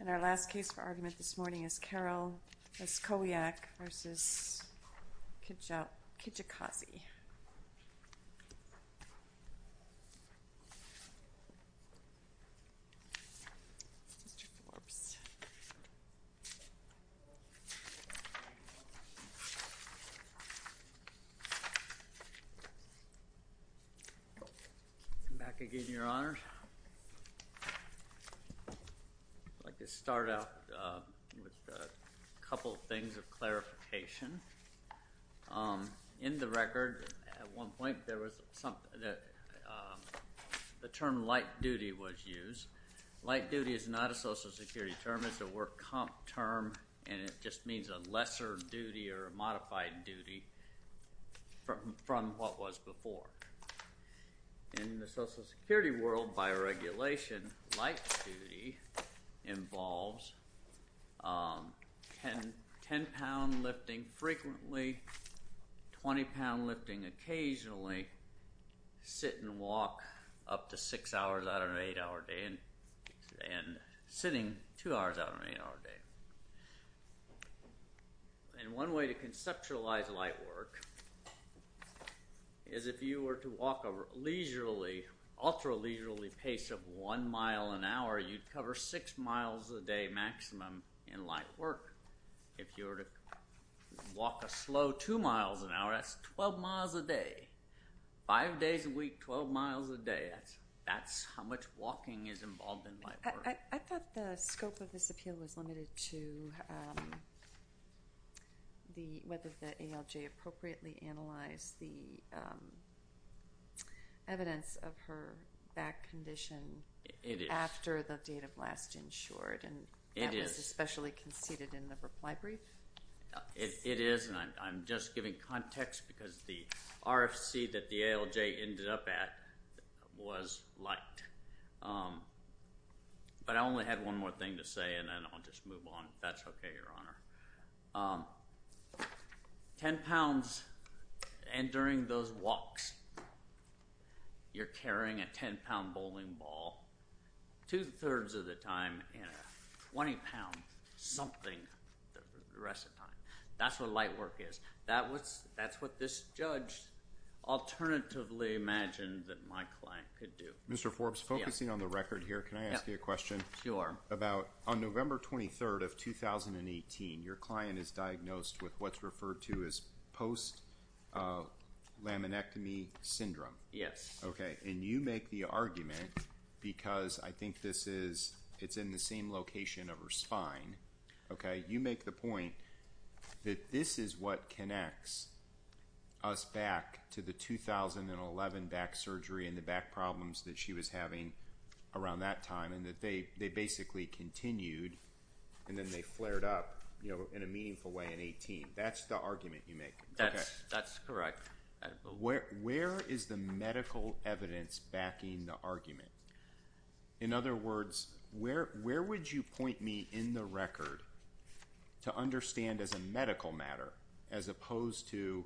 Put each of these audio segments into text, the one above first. And our last case for argument this morning is Carol Leskowyak v. Kilolo Kijakazi. Come back again, Your Honor. I'd like to start out with a couple of things of clarification. In the record, at one point, the term light duty was used. Light duty is not a Social Security term. It's a work comp term, and it just means a lesser duty or a modified duty from what was before. In the Social Security world, by regulation, light duty involves 10-pound lifting frequently, 20-pound lifting occasionally, sit and walk up to 6 hours out of an 8-hour day, and sitting 2 hours out of an 8-hour day. And one way to conceptualize light work is if you were to walk a leisurely, ultra-leisurely pace of 1 mile an hour, you'd cover 6 miles a day maximum in light work. If you were to walk a slow 2 miles an hour, that's 12 miles a day. Five days a week, 12 miles a day, that's how much walking is involved in light work. I thought the scope of this appeal was limited to whether the ALJ appropriately analyzed the evidence of her back condition after the date of last insured, and that was especially conceded in the reply brief. It is, and I'm just giving context because the RFC that the ALJ ended up at was light. But I only had one more thing to say, and then I'll just move on if that's okay, Your Honor. 10 pounds, and during those walks, you're carrying a 10-pound bowling ball, two-thirds of the time, and a 20-pound something the rest of the time. That's what light work is. That's what this judge alternatively imagined that my client could do. Mr. Forbes, focusing on the record here, can I ask you a question? Sure. On November 23rd of 2018, your client is diagnosed with what's referred to as post-laminectomy syndrome. Yes. Okay, and you make the argument, because I think it's in the same location of her spine, you make the point that this is what connects us back to the 2011 back surgery and the back she was having around that time, and that they basically continued, and then they flared up in a meaningful way in 2018. That's the argument you make. That's correct. Where is the medical evidence backing the argument? In other words, where would you point me in the record to understand as a medical matter, as opposed to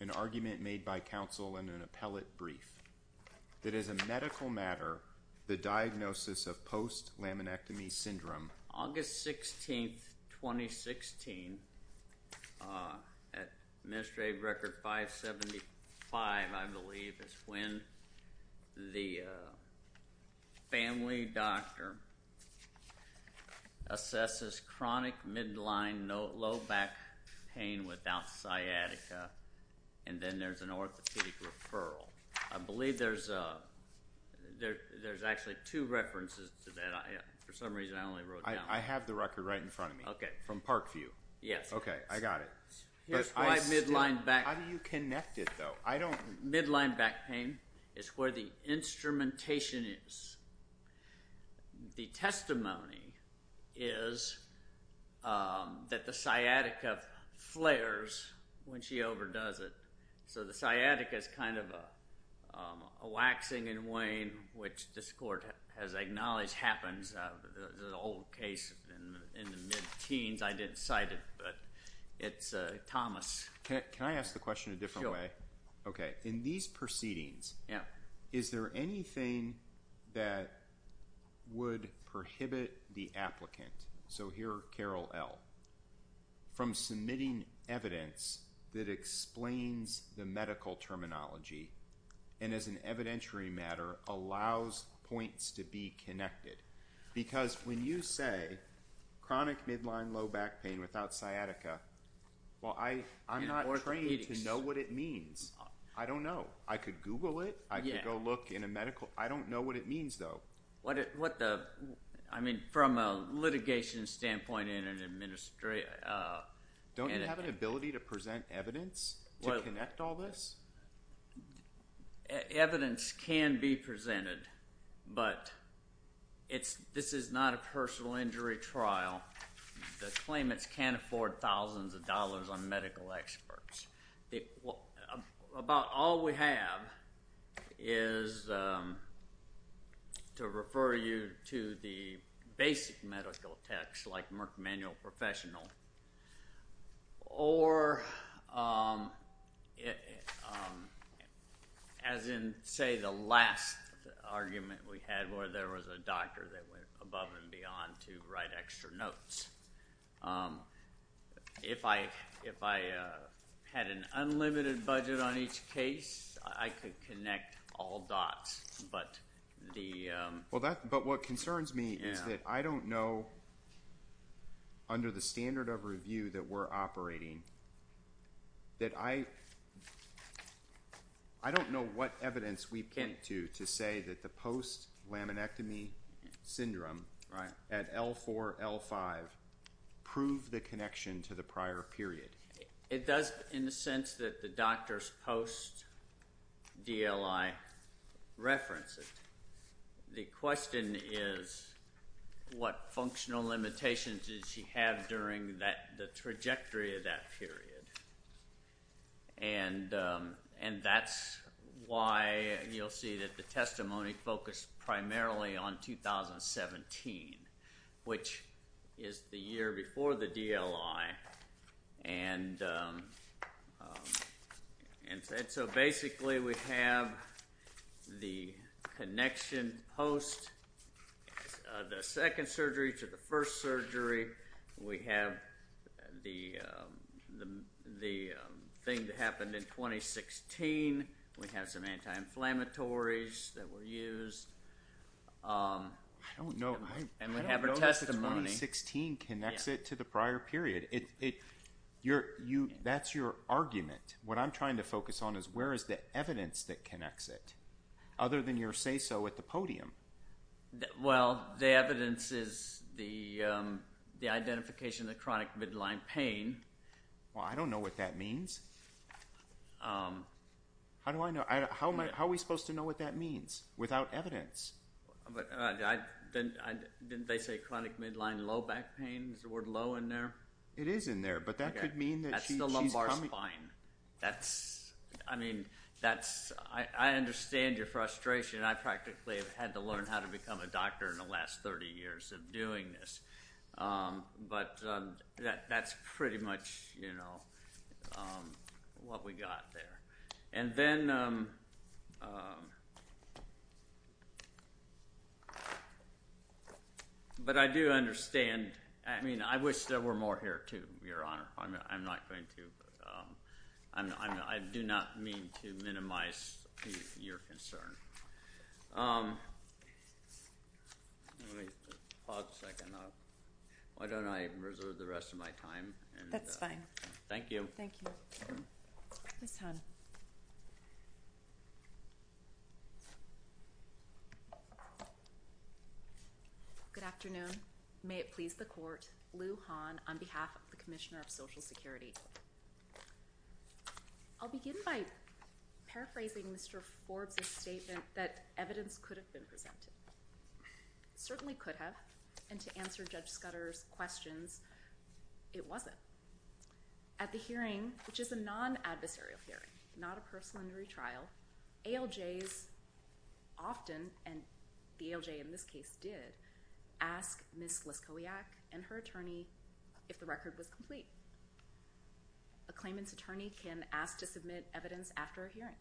an argument made by counsel and an appellate brief, that as a medical matter, the diagnosis of post-laminectomy syndrome. August 16th, 2016, Administrative Record 575, I believe, is when the family doctor assesses chronic midline low back pain without sciatica, and then there's an orthopedic referral. I believe there's actually two references to that. For some reason, I only wrote down. I have the record right in front of me. From Parkview. Yes. Okay, I got it. Here's why midline back pain is where the instrumentation is. The testimony is that the sciatica flares when she overdoes it, so the sciatica is kind of a waxing and waning, which this court has acknowledged happens, an old case in the mid-teens. I didn't cite it, but it's Thomas. Can I ask the question a different way? Sure. Okay, in these proceedings, is there anything that would prohibit the applicant, so here Carol L., from submitting evidence that explains the medical terminology, and as an evidentiary matter, allows points to be connected? Because when you say chronic midline low back pain without sciatica, well, I'm not trained to know what it means. I don't know. I could Google it. I could go look in a medical. I don't know what it means, though. What the, I mean, from a litigation standpoint in an administration. Don't you have an ability to present evidence to connect all this? Evidence can be presented, but this is not a personal injury trial. The claimants can't afford thousands of dollars on medical experts. About all we have is to refer you to the basic medical text, like Merck Manual Professional, or as in, say, the last argument we had where there was a doctor that went above and beyond to write extra notes. If I had an unlimited budget on each case, I could connect all dots, but the... But what concerns me is that I don't know, under the standard of review that we're operating, that I don't know what evidence we point to to say that the post-laminectomy syndrome at L4, L5 proved the connection to the prior period. It does in the sense that the doctor's post-DLI references. The question is, what functional limitations did she have during the trajectory of that period? And that's why you'll see that the testimony focused primarily on 2017, which is the year before the DLI. And so basically, we have the connection post, the second surgery to the first surgery. We have the thing that happened in 2016. We have some anti-inflammatories that were used. And we have her testimony. I don't know if 2016 connects it to the prior period. That's your argument. What I'm trying to focus on is, where is the evidence that connects it, other than your say-so at the podium? Well, the evidence is the identification of the chronic midline pain. Well, I don't know what that means. How do I know? How are we supposed to know what that means without evidence? Didn't they say chronic midline low back pain? Is the word low in there? But that could mean that she's... That's the lumbar spine. That's... I mean, that's... I understand your frustration. I practically have had to learn how to become a doctor in the last 30 years of doing this. But that's pretty much what we got there. And then... But I do understand. I mean, I wish there were more here, too, Your Honor. I'm not going to... I do not mean to minimize your concern. Let me just pause a second. Why don't I reserve the rest of my time and... That's fine. Thank you. Thank you. Ms. Hahn. Good afternoon. Good afternoon. May it please the Court. Lou Hahn on behalf of the Commissioner of Social Security. I'll begin by paraphrasing Mr. Forbes' statement that evidence could have been presented. Certainly could have. And to answer Judge Scudder's questions, it wasn't. At the hearing, which is a non-adversarial hearing, not a personal injury trial, ALJs often, and the ALJ in this case did, ask Ms. Leskowiak and her attorney if the record was complete. A claimant's attorney can ask to submit evidence after a hearing.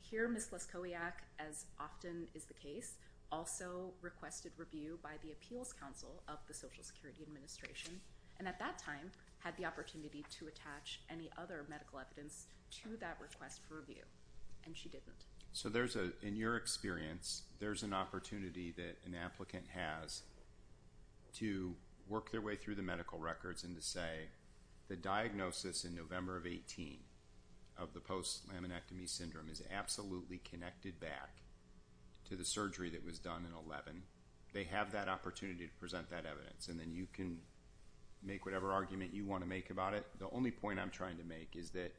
Here, Ms. Leskowiak, as often is the case, also requested review by the Appeals Council of the Social Security Administration, and at that time, had the opportunity to attach any other medical evidence to that request for review. And she didn't. So there's a, in your experience, there's an opportunity that an applicant has to work their way through the medical records and to say the diagnosis in November of 18 of the post-laminectomy syndrome is absolutely connected back to the surgery that was done in 11. They have that opportunity to present that evidence, and then you can make whatever argument you want to make about it. The only point I'm trying to make is that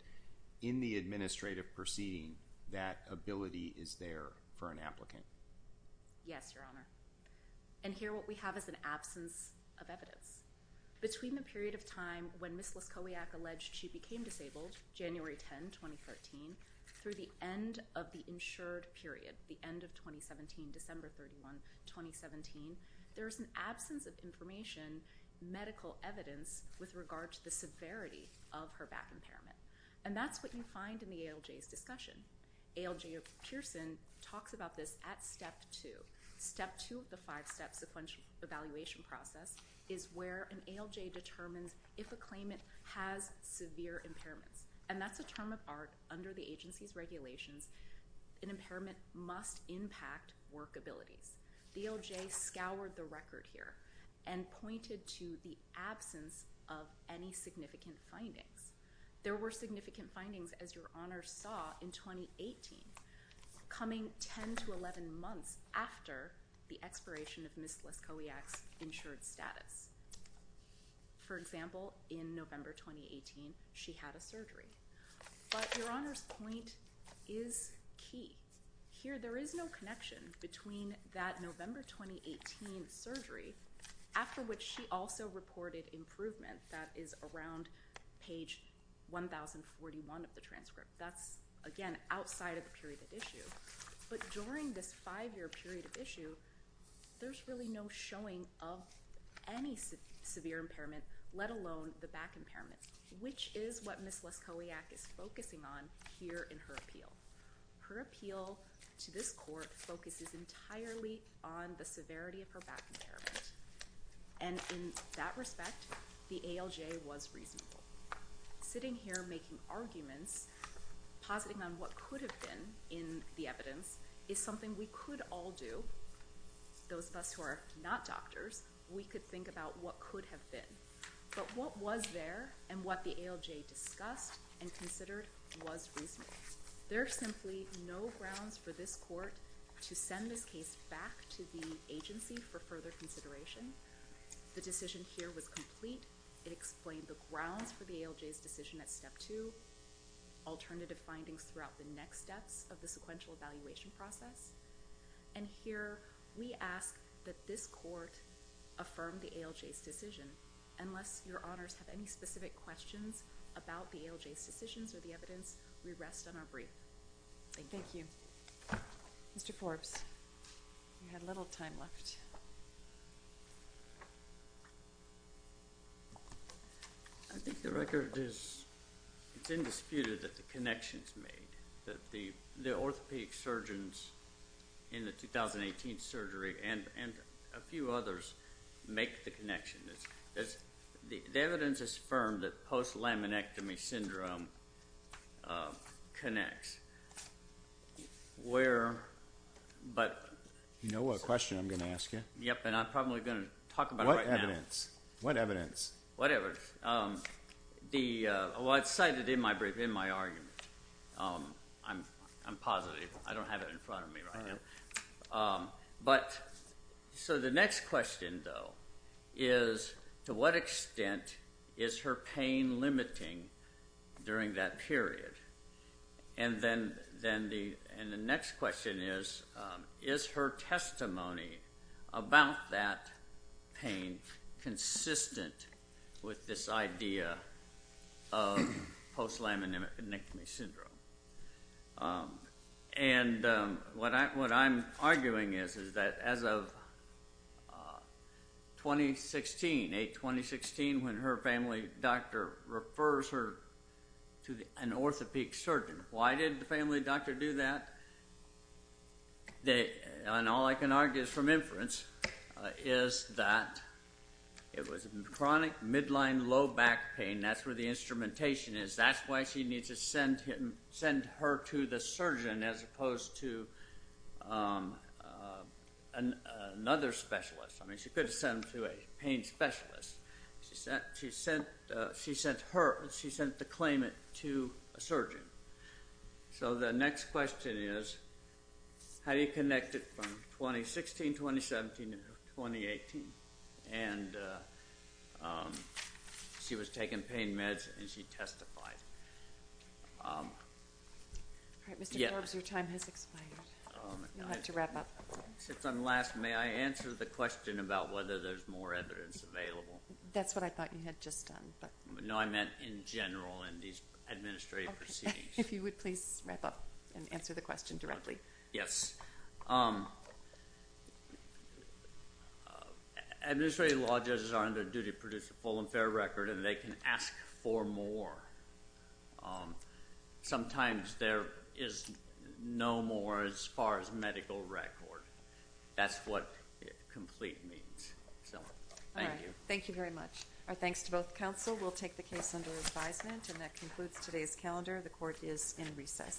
in the administrative proceeding, that ability is there for an applicant. Yes, Your Honor. And here, what we have is an absence of evidence. Between the period of time when Ms. Leskowiak alleged she became disabled, January 10, 2013, through the end of the insured period, the end of 2017, December 31, 2017, there's an possibility of her back impairment. And that's what you find in the ALJ's discussion. ALJ Pearson talks about this at step two. Step two of the five-step sequential evaluation process is where an ALJ determines if a claimant has severe impairments. And that's a term of art under the agency's regulations. An impairment must impact work abilities. The ALJ scoured the record here and pointed to the absence of any significant findings. There were significant findings, as Your Honor saw, in 2018, coming 10 to 11 months after the expiration of Ms. Leskowiak's insured status. For example, in November 2018, she had a surgery. But Your Honor's point is key. Here, there is no connection between that November 2018 surgery, after which she also reported improvement. That is around page 1041 of the transcript. That's, again, outside of the period of issue. But during this five-year period of issue, there's really no showing of any severe impairment, let alone the back impairment, which is what Ms. Leskowiak is focusing on here in her appeal. Her appeal to this court focuses entirely on the severity of her back impairment. And in that respect, the ALJ was reasonable. Sitting here making arguments, positing on what could have been in the evidence, is something we could all do. Those of us who are not doctors, we could think about what could have been. But what was there and what the ALJ discussed and considered was reasonable. There are simply no grounds for this court to send this case back to the agency for further consideration. The decision here was complete. It explained the grounds for the ALJ's decision at step two, alternative findings throughout the next steps of the sequential evaluation process. And here, we ask that this court affirm the ALJ's decision. Unless Your Honors have any specific questions about the ALJ's decisions or the evidence, we rest on our brief. Thank you. Thank you. Mr. Forbes, you had a little time left. I think the record is, it's indisputed that the connection is made. That the orthopedic surgeons in the 2018 surgery and a few others make the connection. The evidence is firm that post-laminectomy syndrome connects. You know what question I'm going to ask you. Yep, and I'm probably going to talk about it right now. What evidence? What evidence? Whatever. Well, it's cited in my brief, in my argument. I'm positive. I don't have it in front of me right now. But, so the next question though, is to what extent is her pain limiting during that period? And then the next question is, is her testimony about that pain consistent with this idea of post-laminectomy syndrome? And what I'm arguing is that as of 2016, 8-2016, when her family doctor refers her to an orthopedic surgeon, why did the family doctor do that? And all I can argue from inference is that it was chronic midline low back pain. That's where the instrumentation is. That's why she needs to send her to the surgeon as opposed to another specialist. I mean, she could have sent them to a pain specialist. She sent her, she sent the claimant to a surgeon. So the next question is, how do you connect it from 2016, 2017, to 2018? And she was taking pain meds and she testified. All right, Mr. Forbes, your time has expired. You'll have to wrap up. Since I'm last, may I answer the question about whether there's more evidence available? That's what I thought you had just done. No, I meant in general in these administrative proceedings. If you would please wrap up and answer the question directly. Yes. Administrative law judges are on their duty to produce a full and fair record and they can ask for more. Sometimes there is no more as far as medical record. That's what complete means. All right, thank you very much. Our thanks to both counsel. We'll take the case under advisement and that concludes today's calendar. The court is in recess.